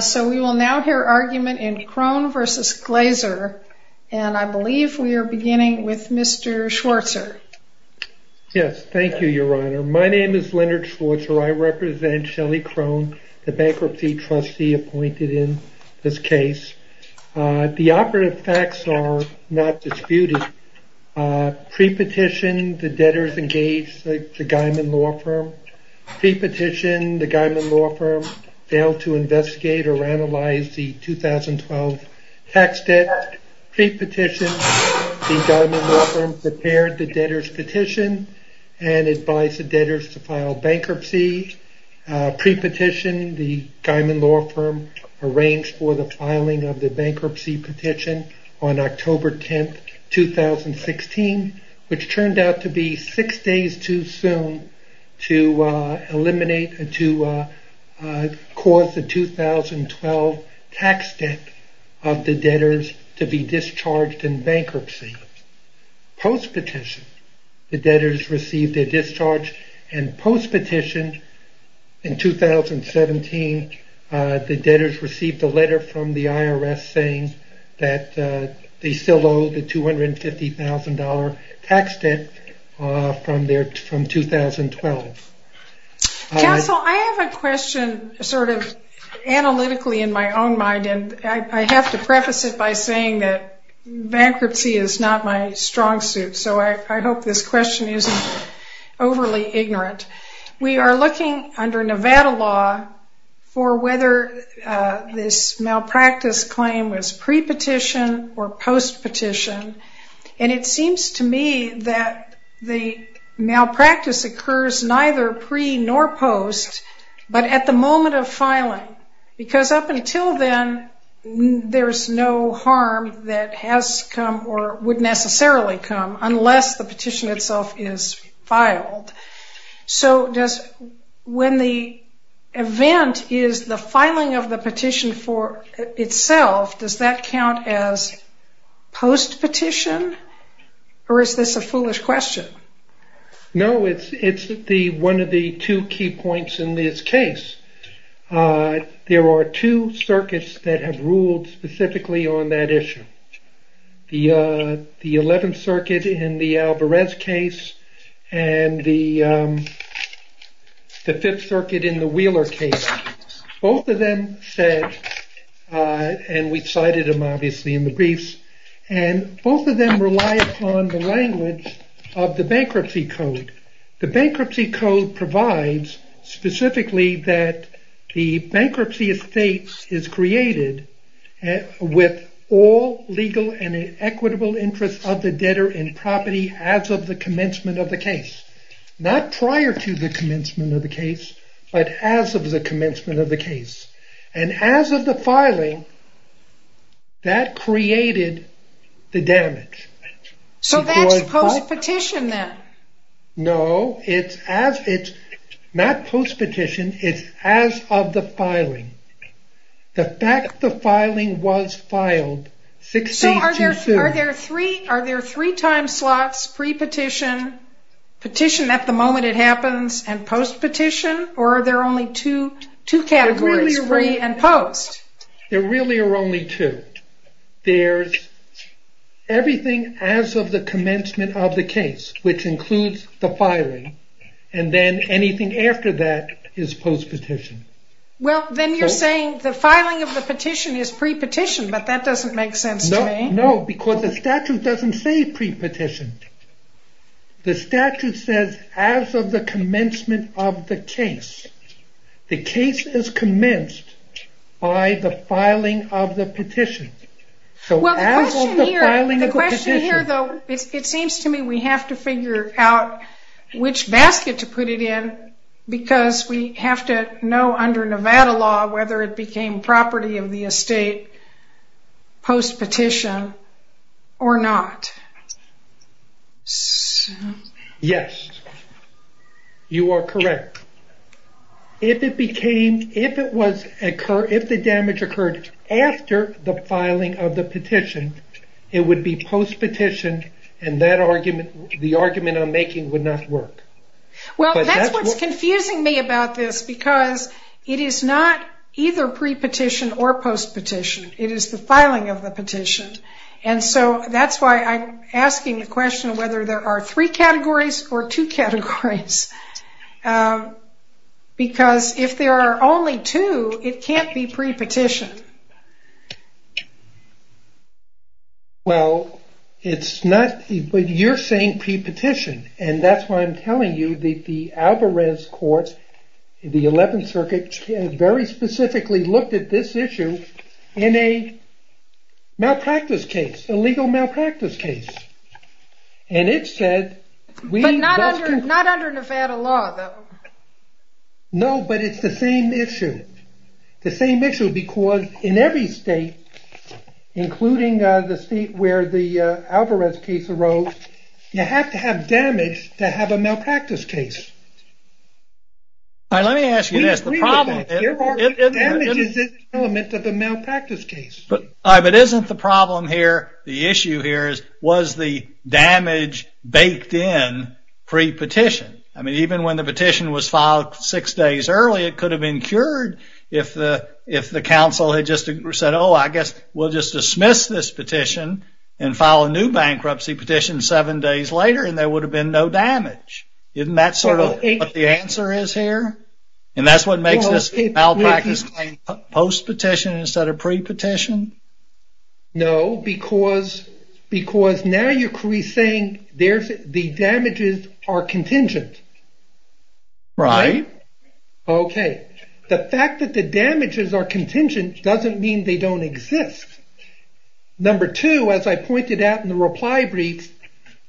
So we will now hear argument in Krohn versus Glaser and I believe we are beginning with Mr. Schwartzer. Yes, thank you your honor. My name is Leonard Schwartzer. I represent Shelley Krohn, the bankruptcy trustee appointed in this case. The operative facts are not disputed. Pre-petition the debtors engaged the Geiman Law Firm. Pre-petition the Geiman Law Firm failed to investigate or analyze the 2012 tax debt. Pre-petition the Geiman Law Firm prepared the debtors petition and advised the debtors to file bankruptcy. Pre-petition the Geiman Law Firm arranged for the filing of the bankruptcy petition on October 10, 2016 which turned out to be six days too soon to eliminate or to cause the 2012 tax debt of the debtors to be discharged in bankruptcy. Post-petition the debtors received a discharge and post-petition in 2017 the debtors received a letter from the IRS saying that they still owe the $250,000 tax debt from 2012. Counsel, I have a question sort of analytically in my own mind and I have to preface it by saying that bankruptcy is not my strong suit so I hope this question isn't overly ignorant. We are looking under Nevada law for whether this malpractice claim was pre-petition or post-petition and it seems to me that the malpractice occurs neither pre nor post but at the moment of filing because up until then there's no harm that has come or would necessarily come unless the petition itself is filed. So does when the event is the filing of the petition for itself does that count as post-petition or is this a foolish question? No, it's one of the two key points in this case. There are two circuits that have ruled specifically on that issue. The 11th circuit and the Alvarez case and the 5th circuit in the Wheeler case. Both of them said and we cited them obviously in the briefs and both of them rely on the language of the bankruptcy code. The bankruptcy code provides specifically that the bankruptcy estate is created with all legal and equitable interest of the debtor in property as of the commencement of the case. Not prior to the commencement of the case but as of the commencement of the case and as of the filing that created the damage. So that's post-petition then? No, it's not post-petition, it's as of the filing. The fact the filing was filed six days too soon. So are there three time slots, pre-petition, petition at the moment it happens and post-petition or are there only two categories, pre and post? There really are only two. There's everything as of the commencement of the case which includes the filing and then anything after that is post-petition. Well then you're saying the filing of the petition is pre-petition but that doesn't make sense to me. No, because the statute doesn't say pre-petition. The statute says as of the commencement of the case. The case is commenced by the filing of the petition. Well the question here though, it seems to me we have to figure out which basket to put it in because we have to know under Nevada law whether it became property of the estate post-petition or not. Yes, you are correct. If the damage occurred after the filing of the petition, it would be post-petition and the argument I'm making would not work. Well that's what's confusing me about this because it is not either pre-petition or post-petition. It is the filing of the petition and so that's why I'm asking the question whether there are three categories or two categories because if there are only two, it can't be pre-petition. Well it's not, but you're saying pre-petition and that's why I'm telling you that the Alvarez court, the 11th circuit, very specifically looked at this issue in a malpractice case, illegal malpractice case and it said... But not under Nevada law though. No, but it's the same issue. The same issue because in every state, including the state where the Alvarez case arose, you have to have damage to have a malpractice case. But isn't the problem here, the issue here is was the damage baked in pre-petition? I mean even when the petition was filed six days early, it could have been cured if the council had just said, oh I guess we'll just dismiss this petition and file a new bankruptcy petition seven days later and there would have been no damage. Isn't that sort of what the answer is here? And that's what makes this malpractice claim post-petition instead of pre-petition? No, because now you're saying the damages are contingent. Right. Okay, the fact that the damages are contingent doesn't mean they don't exist. Number two, as I pointed out in the reply brief,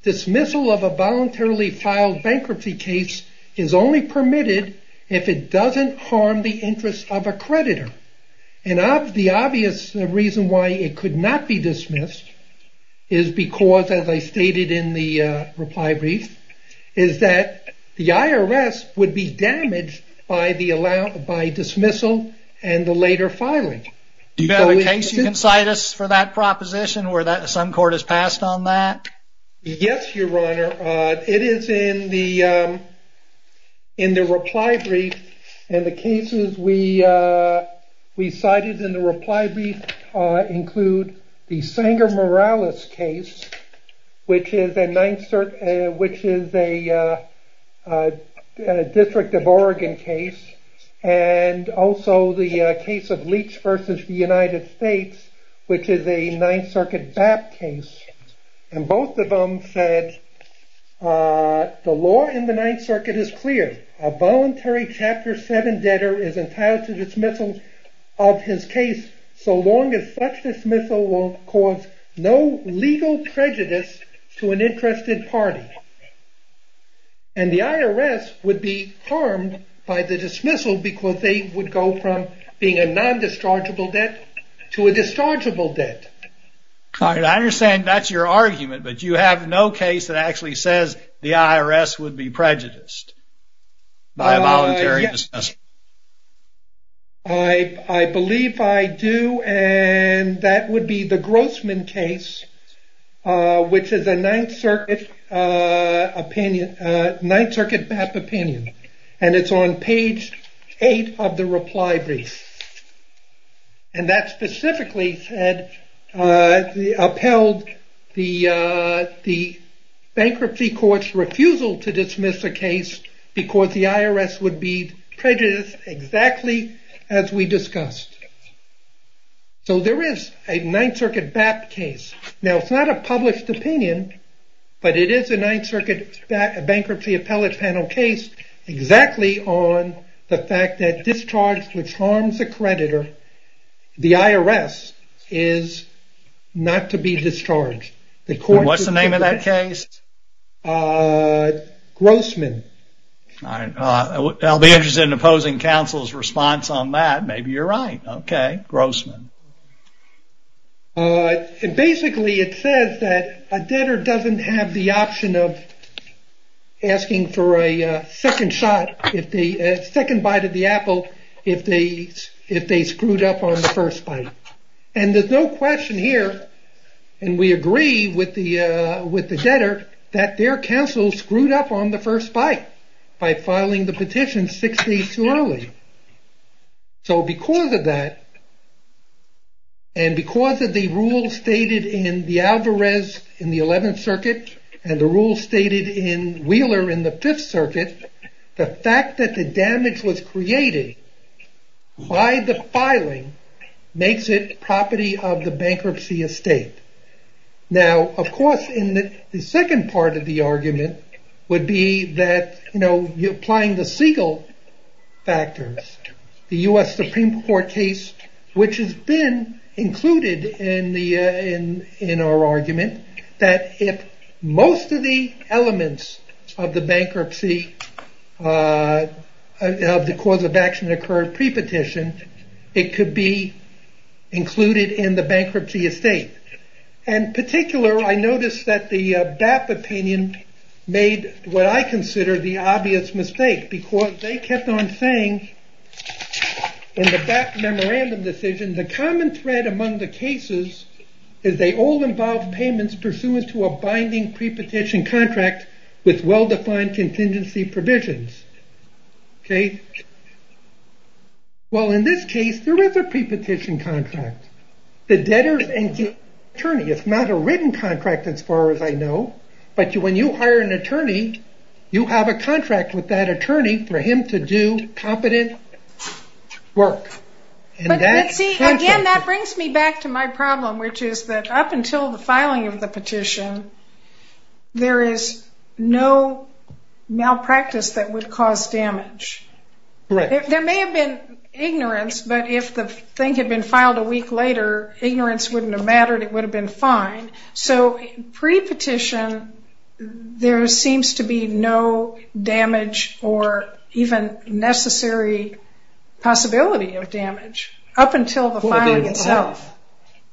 dismissal of a voluntarily filed bankruptcy case is only permitted if it doesn't harm the interest of a creditor. And the obvious reason why it could not be dismissed is because, as I stated in the reply brief, is that the IRS would be damaged by dismissal and the later filing. Do you have a case you can cite us for that proposition where some court has passed on that? Yes, Your Honor. It is in the reply brief and the cases we cited in the reply brief include the Sanger Morales case, which is a District of Oregon case, and also the case of Leach v. the United States, which is a Ninth Circuit BAP case. And both of them said, the law in the Ninth Circuit is clear. A voluntary Chapter 7 debtor is entitled to dismissal of his case so long as such dismissal will cause no legal prejudice to an interested party. And the IRS would be harmed by the dismissal because they would go from being a non-dischargeable debt to a dischargeable debt. I understand that's your argument, but you have no case that actually says the IRS would be prejudiced by a voluntary dismissal. I believe I do, and that would be the Grossman case, which is a Ninth Circuit BAP opinion, and it's on page 8 of the reply brief. And that specifically said, upheld the bankruptcy court's refusal to dismiss a case because the IRS would be prejudiced exactly as we discussed. So there is a Ninth Circuit BAP case. Now it's not a published opinion, but it is a Ninth Circuit bankruptcy appellate panel case exactly on the fact that discharge which harms a creditor, the IRS, is not to be discharged. What's the name of that case? Grossman. I'll be interested in opposing counsel's response on that. Maybe you're right. Okay. Grossman. Basically it says that a debtor doesn't have the option of asking for a second bite of the apple if they screwed up on the first bite. And there's no question here, and we agree with the debtor, that their counsel screwed up on the first bite by filing the petition six days too early. So because of that, and because of the rule stated in the Alvarez in the Eleventh Circuit, and the rule stated in Wheeler in the Fifth Circuit, the fact that the damage was created by the filing makes it property of the bankruptcy estate. Now, of course, the second part of the argument would be that, you know, applying the Siegel factors, the U.S. Supreme Court case, which has been included in our argument, that if most of the elements of the bankruptcy, of the cause of action occurred pre-petition, it could be included in the bankruptcy estate. In particular, I noticed that the BAP opinion made what I consider the obvious mistake, because they kept on saying in the BAP memorandum decision, the common thread among the cases is they all involve payments pursuant to a binding pre-petition contract with well-defined contingency provisions. Okay? Well, in this case, there is a pre-petition contract. The debtor is an attorney. It's not a written contract as far as I know, but when you hire an attorney, you have a contract with that attorney for him to do competent work. See, again, that brings me back to my problem, which is that up until the filing of the petition, there is no malpractice that would cause damage. There may have been ignorance, but if the thing had been filed a week later, ignorance wouldn't have mattered. It would have been fine. So, pre-petition, there seems to be no damage or even necessary possibility of damage up until the filing itself.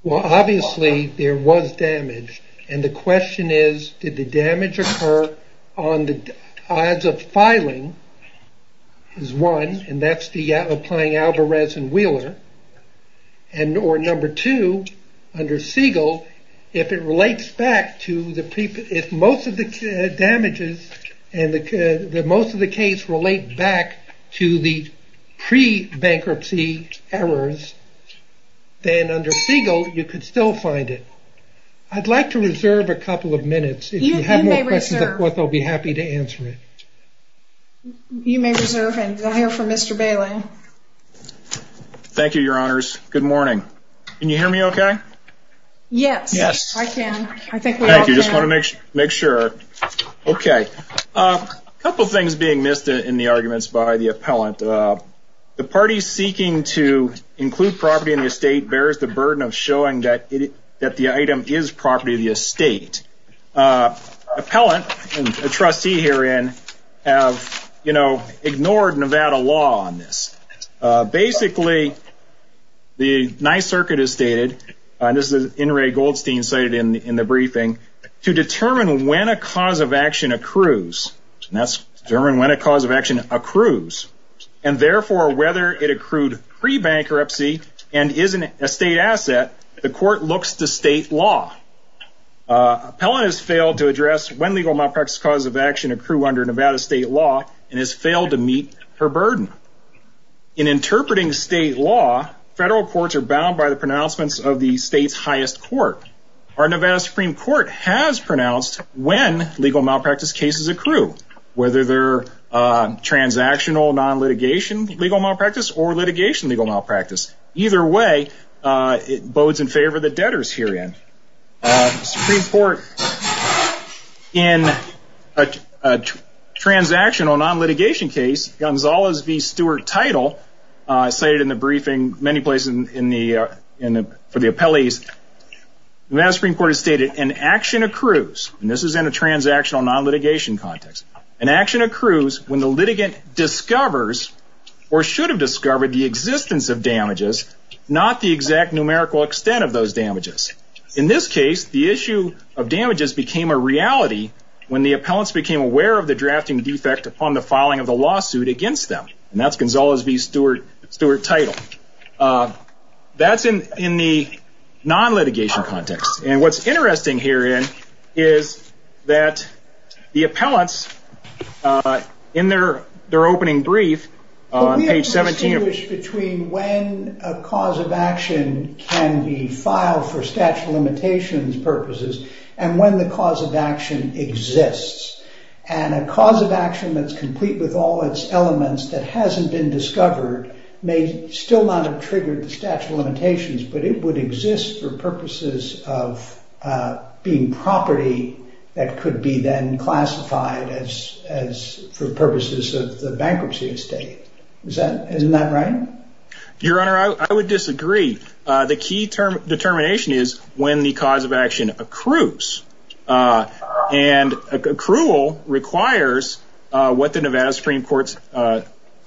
Well, obviously, there was damage, and the question is, did the damage occur on the odds of filing is one, and that's applying Alvarez and Wheeler, or number two, under Siegel, if most of the damages and most of the case relate back to the pre-bankruptcy errors, then under Siegel, you could still find it. I'd like to reserve a couple of minutes. If you have more questions, of course, I'll be happy to answer it. You may reserve and hire for Mr. Bailey. Thank you, Your Honors. Good morning. Can you hear me okay? Yes. Yes. I can. I think we all can. Thank you. Just want to make sure. Okay. A couple things being missed in the arguments by the appellant. The party seeking to include property in the estate bears the burden of showing that the item is property of the estate. Appellant, a trustee herein, have, you know, ignored Nevada law on this. Basically, the Ninth Circuit has stated, and this is In re Goldstein cited in the briefing, to determine when a cause of action accrues. That's determine when a cause of action accrues, and therefore, whether it accrued pre-bankruptcy and is an estate asset, the court looks to state law. Appellant has failed to address when legal malpractice causes of action accrue under Nevada state law and has failed to meet her burden. In interpreting state law, federal courts are bound by the pronouncements of the state's highest court. Our Nevada Supreme Court has pronounced when legal malpractice cases accrue, whether they're transactional non-litigation legal malpractice or litigation legal malpractice. Either way, it bodes in favor of the debtors herein. Supreme Court, in a transactional non-litigation case, Gonzalez v. Stewart-Title, cited in the briefing, many places for the appellees, Nevada Supreme Court has stated, an action accrues, and this is in a transactional non-litigation context, an action accrues when the litigant discovers or should have discovered the existence of damages, not the exact numerical extent of those damages. In this case, the issue of damages became a reality when the appellants became aware of the drafting defect upon the filing of the lawsuit against them. And that's Gonzalez v. Stewart-Title. That's in the non-litigation context. And what's interesting herein is that the appellants, in their opening brief, on page 17... purposes, and when the cause of action exists. And a cause of action that's complete with all its elements that hasn't been discovered may still not have triggered the statute of limitations, but it would exist for purposes of being property that could be then classified as for purposes of the bankruptcy estate. Isn't that right? Your Honor, I would disagree. The key determination is when the cause of action accrues. And accrual requires what the Nevada Supreme Court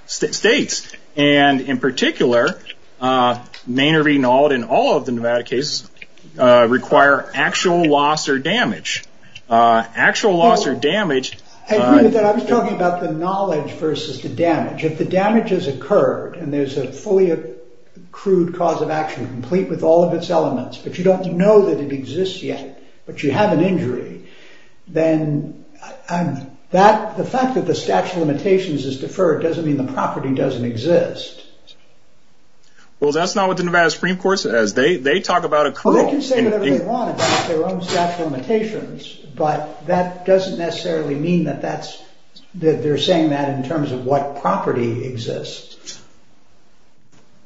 states. And, in particular, may or may not, in all of the Nevada cases, require actual loss or damage. Actual loss or damage... I agree with that. I was talking about the knowledge versus the damage. If the damage has occurred, and there's a fully accrued cause of action complete with all of its elements, but you don't know that it exists yet, but you have an injury, then the fact that the statute of limitations is deferred doesn't mean the property doesn't exist. Well, that's not what the Nevada Supreme Court says. They talk about accrual. They can say whatever they want about their own statute of limitations, but that doesn't necessarily mean that they're saying that in terms of what property exists.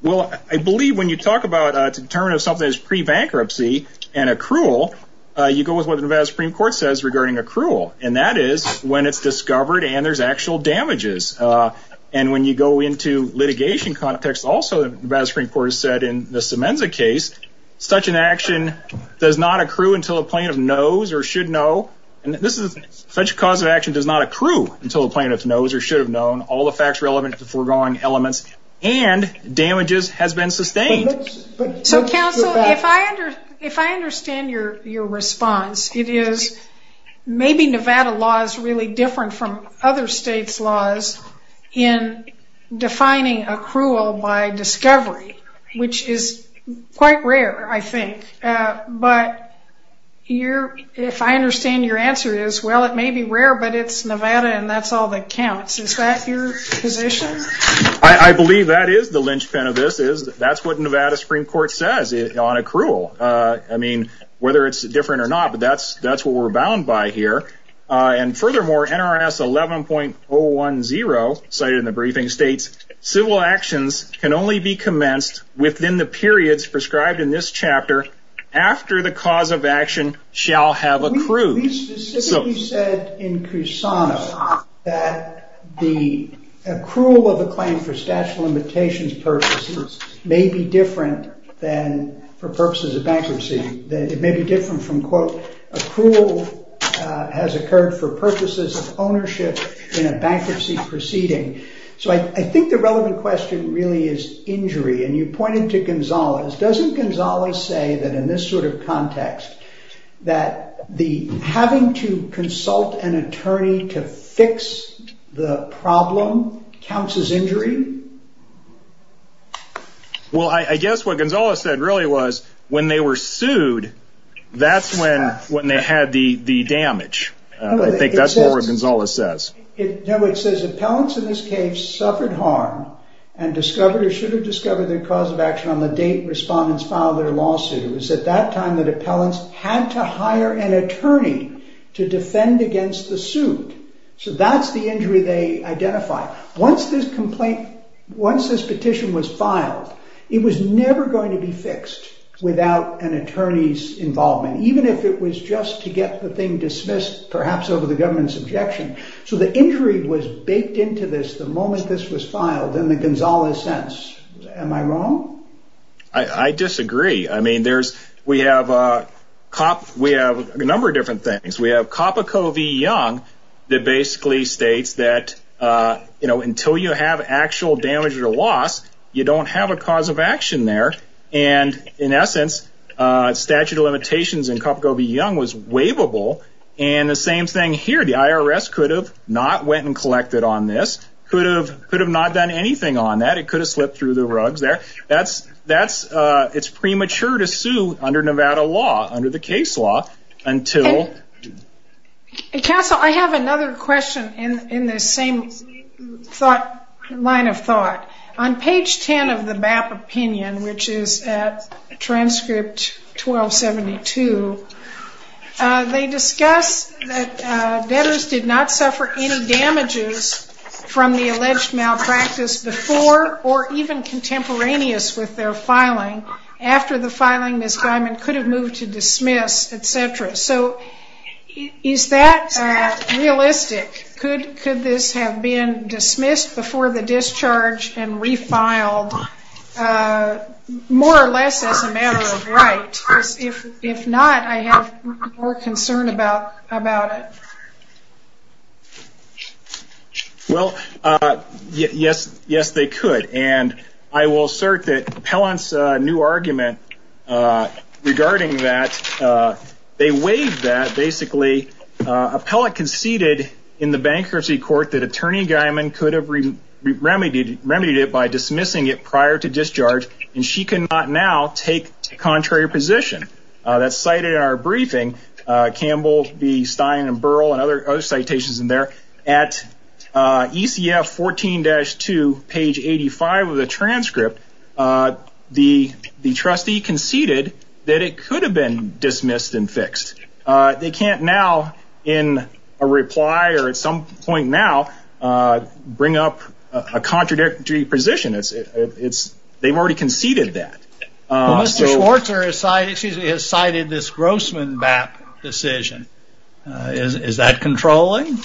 Well, I believe when you talk about a determination of something that's pre-bankruptcy and accrual, you go with what the Nevada Supreme Court says regarding accrual, and that is when it's discovered and there's actual damages. And when you go into litigation context, also the Nevada Supreme Court has said in the Semenza case, such an action does not accrue until a plaintiff knows or should know. Such a cause of action does not accrue until a plaintiff knows or should have known all the facts relevant to foregoing elements, and damages has been sustained. So, counsel, if I understand your response, it is maybe Nevada law is really different from other states' laws in defining accrual by discovery, which is quite rare, I think. But if I understand your answer, it may be rare, but it's Nevada and that's all that counts. Is that your position? I believe that is the linchpin of this. That's what Nevada Supreme Court says on accrual. I mean, whether it's different or not, but that's what we're bound by here. And furthermore, NRS 11.010 cited in the briefing states, civil actions can only be commenced within the periods prescribed in this chapter after the cause of action shall have accrued. We specifically said in Cusano that the accrual of a claim for statute of limitations purposes may be different than for purposes of bankruptcy. It may be different from, quote, accrual has occurred for purposes of ownership in a bankruptcy proceeding. So I think the relevant question really is injury. And you pointed to Gonzales. Doesn't Gonzales say that in this sort of context that having to consult an attorney to fix the problem counts as injury? Well, I guess what Gonzales said really was when they were sued, that's when they had the damage. I think that's what Gonzales says. No, it says appellants in this case suffered harm and discovered or should have discovered the cause of action on the date respondents filed their lawsuit. It was at that time that appellants had to hire an attorney to defend against the suit. So that's the injury they identified. Once this petition was filed, it was never going to be fixed without an attorney's involvement, even if it was just to get the thing dismissed perhaps over the government's objection. So the injury was baked into this the moment this was filed in the Gonzales sense. Am I wrong? I disagree. I mean, we have a number of different things. We have Coppico v. Young that basically states that until you have actual damage or loss, you don't have a cause of action there. And in essence, statute of limitations in Coppico v. Young was waivable. And the same thing here. The IRS could have not went and collected on this, could have not done anything on that. It could have slipped through the rugs there. It's premature to sue under Nevada law, under the case law, until... Castle, I have another question in the same line of thought. On page 10 of the BAP opinion, which is at transcript 1272, they discuss that debtors did not suffer any damages from the alleged malpractice before or even contemporaneous with their filing. After the filing, Ms. Diamond could have moved to dismiss, et cetera. So is that realistic? Could this have been dismissed before the discharge and refiled more or less as a matter of right? If not, I have more concern about it. Well, yes, they could. And I will assert that Appellant's new argument regarding that, they waived that basically. Appellant conceded in the bankruptcy court that Attorney Diamond could have remedied it by dismissing it prior to discharge. And she cannot now take the contrary position. That's cited in our briefing. Campbell, Stein, and Burrell and other citations in there. At ECF 14-2, page 85 of the transcript, the trustee conceded that it could have been dismissed and fixed. They can't now in a reply or at some point now bring up a contradictory position. They've already conceded that. Mr. Schwartz has cited this Grossman BAP decision. Is that controlling?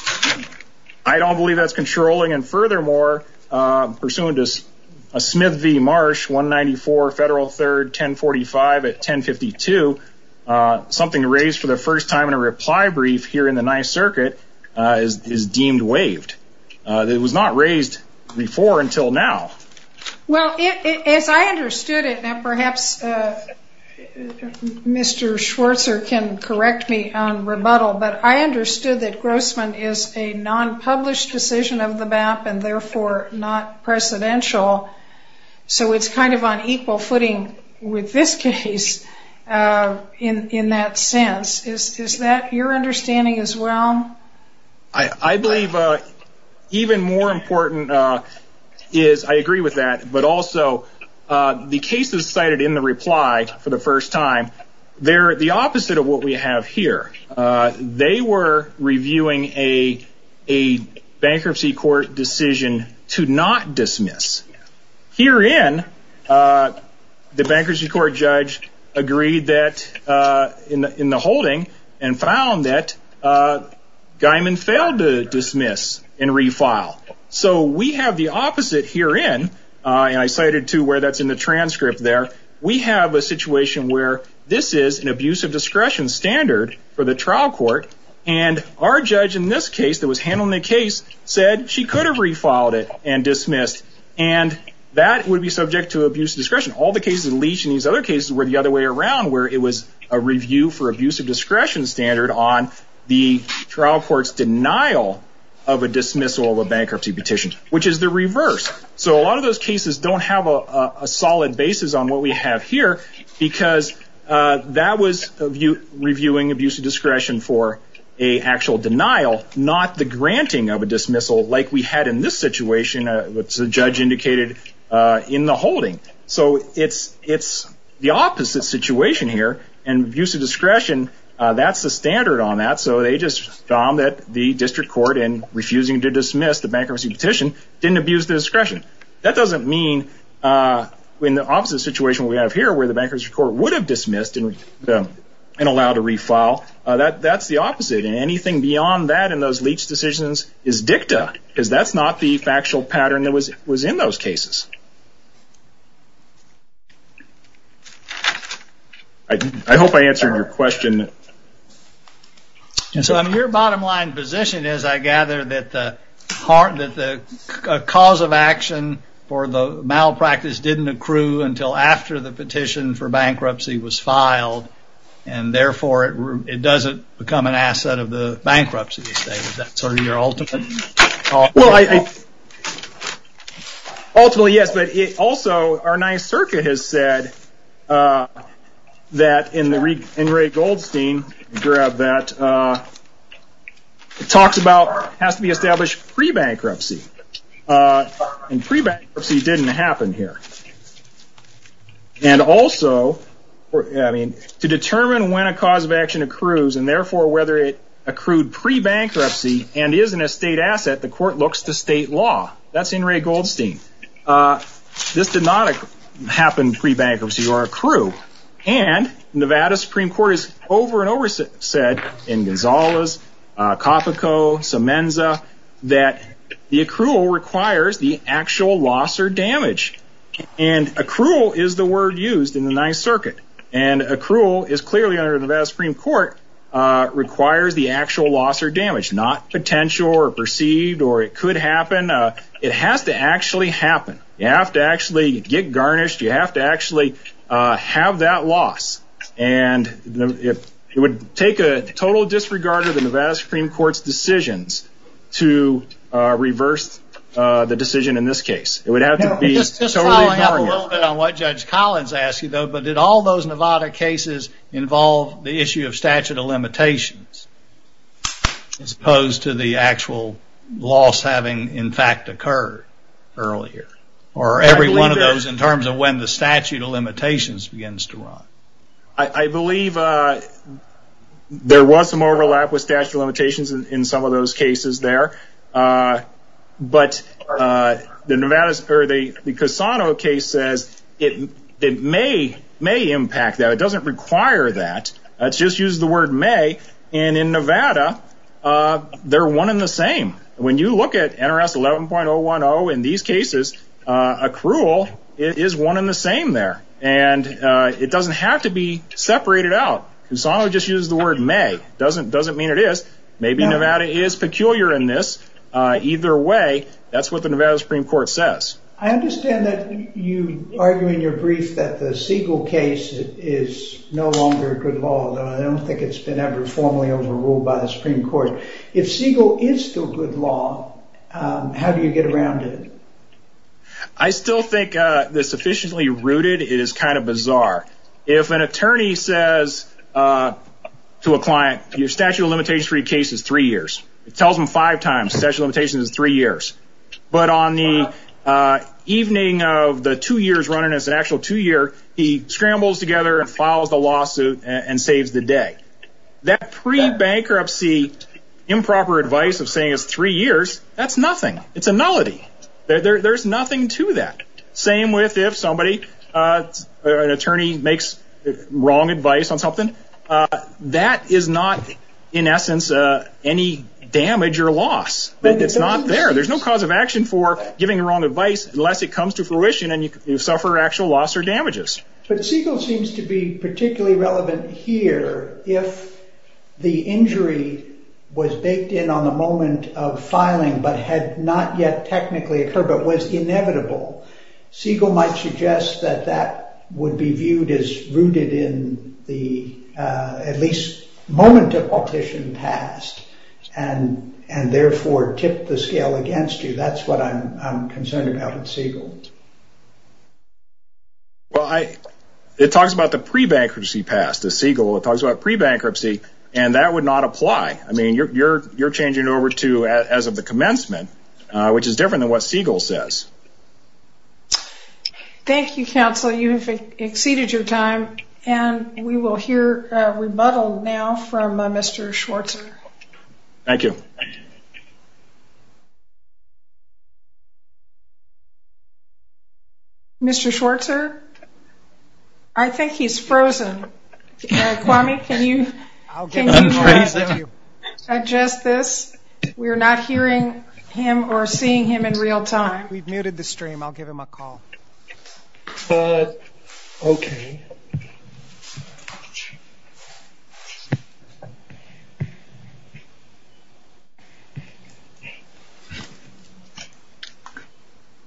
I don't believe that's controlling. And furthermore, pursuant to a Smith v. Marsh 194 Federal 3rd 1045 at 1052, something raised for the first time in a reply brief here in the ninth circuit is deemed waived. It was not raised before until now. Well, as I understood it, and perhaps Mr. Schwartz can correct me on rebuttal, but I understood that Grossman is a non-published decision of the BAP and therefore not presidential. So it's kind of on equal footing with this case in that sense. Is that your understanding as well? I believe even more important is, I agree with that, but also the cases cited in the reply for the first time, they're the opposite of what we have here. They were reviewing a bankruptcy court decision to not dismiss. Herein, the bankruptcy court judge agreed that in the holding and found that Guyman failed to dismiss and refile. So we have the opposite herein, and I cited too where that's in the transcript there. We have a situation where this is an abuse of discretion standard for the trial court, and our judge in this case that was handling the case said she could have refiled it and dismissed, and that would be subject to abuse of discretion. All the cases unleashed in these other cases were the other way around, where it was a review for abuse of discretion standard on the trial court's denial of a dismissal of a bankruptcy petition, which is the reverse. So a lot of those cases don't have a solid basis on what we have here because that was reviewing abuse of discretion for an actual denial, not the granting of a dismissal like we had in this situation, which the judge indicated in the holding. So it's the opposite situation here, and abuse of discretion, that's the standard on that. So they just found that the district court, in refusing to dismiss the bankruptcy petition, didn't abuse the discretion. That doesn't mean in the opposite situation we have here, where the bankruptcy court would have dismissed and allowed a refile, that's the opposite, and anything beyond that in those leach decisions is dicta, because that's not the factual pattern that was in those cases. I hope I answered your question. So your bottom line position is, I gather, that the cause of action for the malpractice didn't accrue until after the petition for bankruptcy was filed, and therefore it doesn't become an asset of the bankruptcy estate. Ultimately, yes, but also our NYSERDA has said that, in Ray Goldstein's paragraph, that it has to be established pre-bankruptcy, and pre-bankruptcy didn't happen here. And also, to determine when a cause of action accrues, and therefore whether it accrued pre-bankruptcy, and isn't a state asset, the court looks to state law. That's in Ray Goldstein. This did not happen pre-bankruptcy or accrue. And Nevada Supreme Court has over and over said, in Gonzalez, Copico, Semenza, that the accrual requires the actual loss or damage. And accrual is the word used in the Ninth Circuit. And accrual is clearly, under Nevada Supreme Court, requires the actual loss or damage, not potential or perceived or it could happen. It has to actually happen. You have to actually get garnished. You have to actually have that loss. And it would take a total disregard of the Nevada Supreme Court's decisions to reverse the decision in this case. It would have to be totally ignored. Just following up a little bit on what Judge Collins asked you, though, as opposed to the actual loss having, in fact, occurred earlier. Or every one of those in terms of when the statute of limitations begins to run. I believe there was some overlap with statute of limitations in some of those cases there. But the Cassano case says it may impact that. It doesn't require that. It's just used the word may. And in Nevada, they're one and the same. When you look at NRS 11.010 in these cases, accrual is one and the same there. And it doesn't have to be separated out. Cassano just used the word may. It doesn't mean it is. Maybe Nevada is peculiar in this. Either way, that's what the Nevada Supreme Court says. I understand that you argue in your brief that the Siegel case is no longer good law, though I don't think it's been ever formally overruled by the Supreme Court. If Siegel is still good law, how do you get around it? I still think the sufficiently rooted, it is kind of bizarre. If an attorney says to a client, your statute of limitations for your case is three years. It tells them five times, statute of limitations is three years. But on the evening of the two years running as an actual two year, he scrambles together and files the lawsuit and saves the day. That pre-bankruptcy improper advice of saying it's three years, that's nothing. It's a nullity. There's nothing to that. Same with if somebody, an attorney, makes wrong advice on something. That is not, in essence, any damage or loss. It's not there. There's no cause of action for giving wrong advice unless it comes to fruition and you suffer actual loss or damages. But Siegel seems to be particularly relevant here if the injury was baked in on the moment of filing but had not yet technically occurred but was inevitable. Siegel might suggest that that would be viewed as rooted in the at least moment of partition passed and therefore tip the scale against you. That's what I'm concerned about at Siegel. Well, it talks about the pre-bankruptcy passed at Siegel. It talks about pre-bankruptcy and that would not apply. I mean, you're changing over to as of the commencement, which is different than what Siegel says. Thank you, counsel. Counsel, you have exceeded your time and we will hear a rebuttal now from Mr. Schwartzer. Thank you. Mr. Schwartzer, I think he's frozen. Kwame, can you adjust this? We are not hearing him or seeing him in real time. We've muted the stream. I'll give him a call. Okay.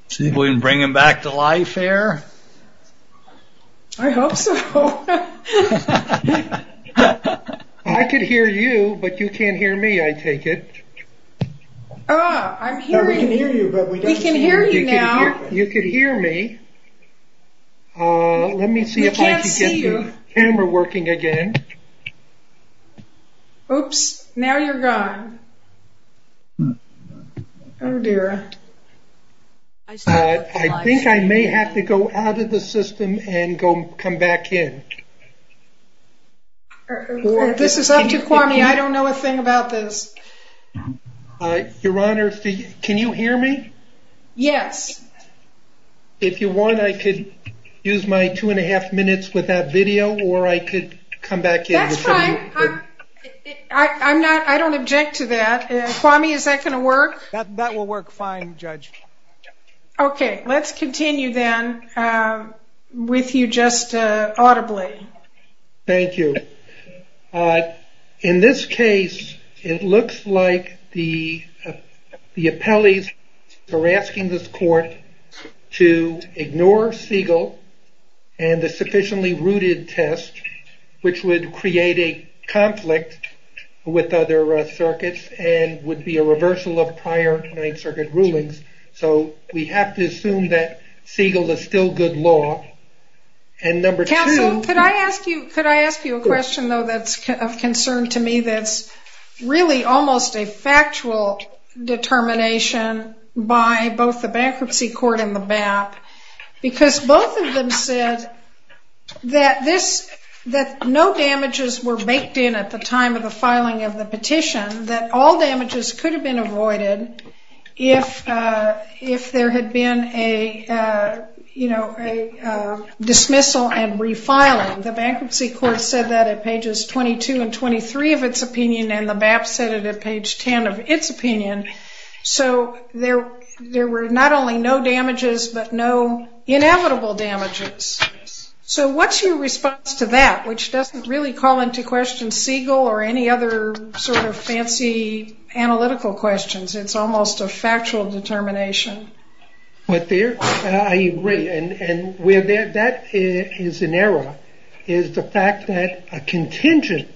See if we can bring him back to life here. I hope so. I can hear you, but you can't hear me, I take it. Oh, I'm hearing you. We can hear you now. You can hear me. Let me see if I can get the camera working again. Oops, now you're gone. Oh, dear. I think I may have to go out of the system and come back in. This is up to Kwame. I don't know a thing about this. Your Honor, can you hear me? Yes. If you want, I could use my two and a half minutes with that video or I could come back in. That's fine. I don't object to that. That will work fine, Judge. Okay, let's continue then with you just audibly. Thank you. In this case, it looks like the appellees are asking this court to ignore Siegel and the sufficiently rooted test, which would create a conflict with other circuits and would be a reversal of prior Ninth Circuit rulings. So we have to assume that Siegel is still good law. Counsel, could I ask you a question, though, that's of concern to me that's really almost a factual determination by both the bankruptcy court and the BAP, because both of them said that no damages were baked in at the time of the filing of the petition, that all damages could have been avoided if there had been a dismissal and refiling. The bankruptcy court said that at pages 22 and 23 of its opinion, and the BAP said it at page 10 of its opinion. So there were not only no damages but no inevitable damages. So what's your response to that, which doesn't really call into question Siegel or any other sort of fancy analytical questions. It's almost a factual determination. I agree, and that is an error, is the fact that a contingent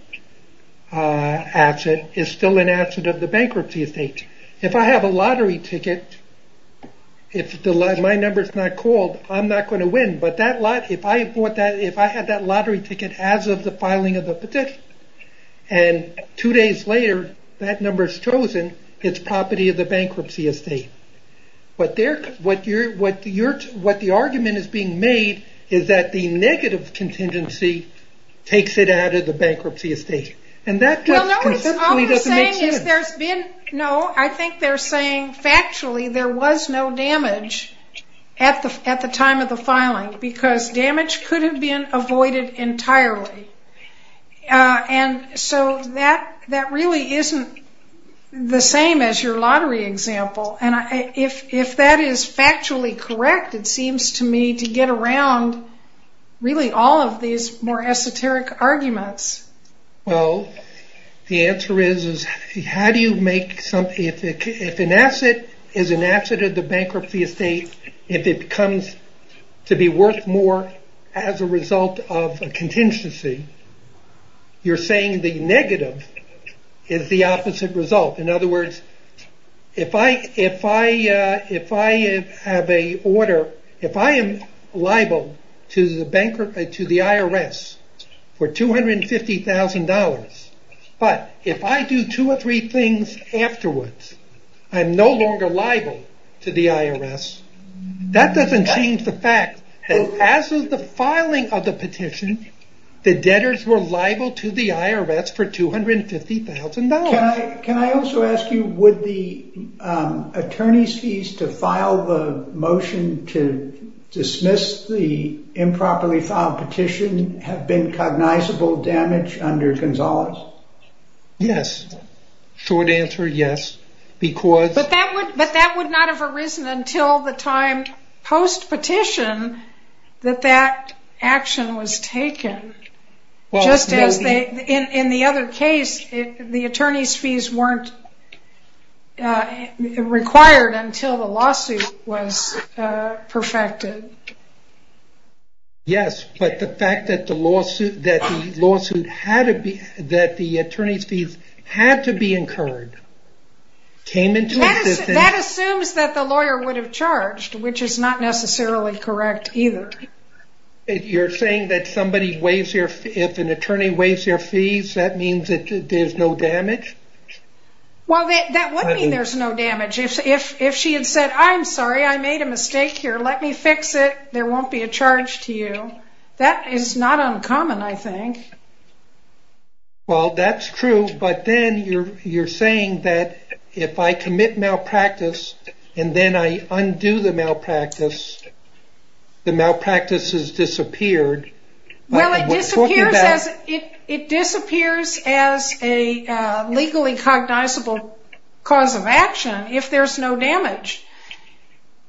asset is still an asset of the bankruptcy estate. If I have a lottery ticket, if my number's not called, I'm not going to win. But if I had that lottery ticket as of the filing of the petition, and two days later that number's chosen, it's property of the bankruptcy estate. What the argument is being made is that the negative contingency takes it out of the bankruptcy estate. No, I think they're saying factually there was no damage at the time of the filing, because damage could have been avoided entirely. And so that really isn't the same as your lottery example. And if that is factually correct, it seems to me to get around really all of these more esoteric arguments. Well, the answer is, if an asset is an asset of the bankruptcy estate, if it comes to be worth more as a result of a contingency, you're saying the negative is the opposite result. In other words, if I am liable to the IRS for $250,000, but if I do two or three things afterwards, I'm no longer liable to the IRS, that doesn't change the fact that as of the filing of the petition, the debtors were liable to the IRS for $250,000. Can I also ask you, would the attorney's fees to file the motion to dismiss the improperly filed petition have been cognizable damage under Gonzales? Yes. Short answer, yes. But that would not have arisen until the time post-petition that that action was taken. In the other case, the attorney's fees weren't required until the lawsuit was perfected. Yes, but the fact that the attorney's fees had to be incurred came into existence... That assumes that the lawyer would have charged, which is not necessarily correct either. You're saying that if an attorney waives their fees, that means that there's no damage? Well, that would mean there's no damage. If she had said, I'm sorry, I made a mistake here, let me fix it, there won't be a charge to you. That is not uncommon, I think. Well, that's true, but then you're saying that if I commit malpractice and then I undo the malpractice, the malpractice has disappeared. Well, it disappears as a legally cognizable cause of action if there's no damage.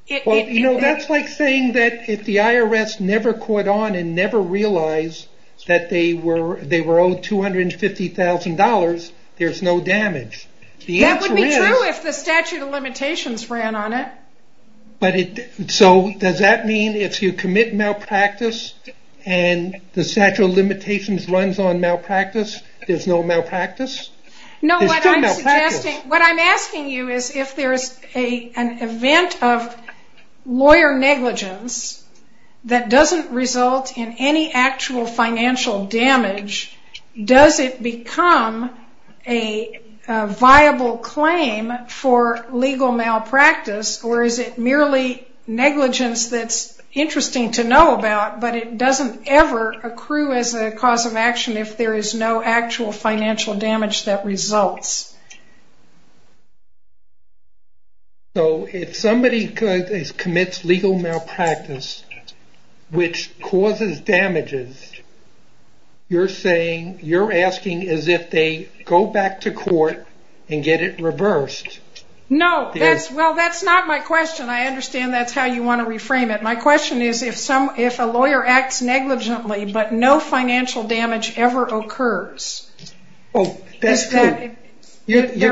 That's like saying that if the IRS never caught on and never realized that they were owed $250,000, there's no damage. That would be true if the statute of limitations ran on it. Does that mean if you commit malpractice and the statute of limitations runs on malpractice, there's no malpractice? No, what I'm asking you is if there's an event of lawyer negligence that doesn't result in any actual financial damage, does it become a viable claim for legal malpractice, or is it merely negligence that's interesting to know about, but it doesn't ever accrue as a cause of action if there is no actual financial damage that results? If somebody commits legal malpractice, which causes damages, you're asking as if they go back to court and get it reversed. No, that's not my question. I understand that's how you want to reframe it. My question is if a lawyer acts negligently but no financial damage ever occurs. That's true. You're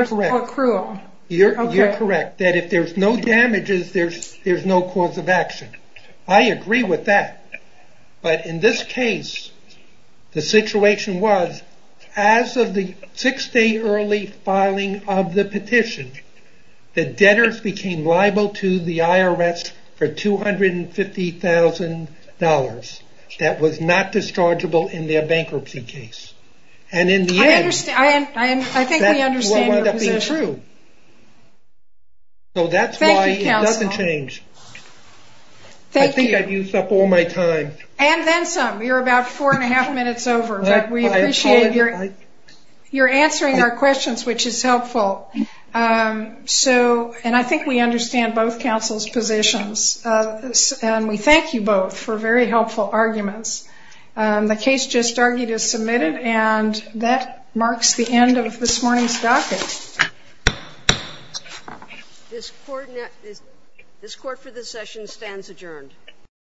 correct that if there's no damages, there's no cause of action. I agree with that, but in this case, the situation was as of the six-day early filing of the petition, the debtors became liable to the IRS for $250,000 that was not dischargeable in their bankruptcy case. In the end, that's what wound up being true. I think we understand your position. That's why it doesn't change. Thank you, counsel. I think I've used up all my time. And then some. You're about four and a half minutes over, but we appreciate your answering our questions, which is helpful. I think we understand both counsels' positions, and we thank you both for very helpful arguments. The case just argued is submitted, and that marks the end of this morning's docket. This Court for this session stands adjourned.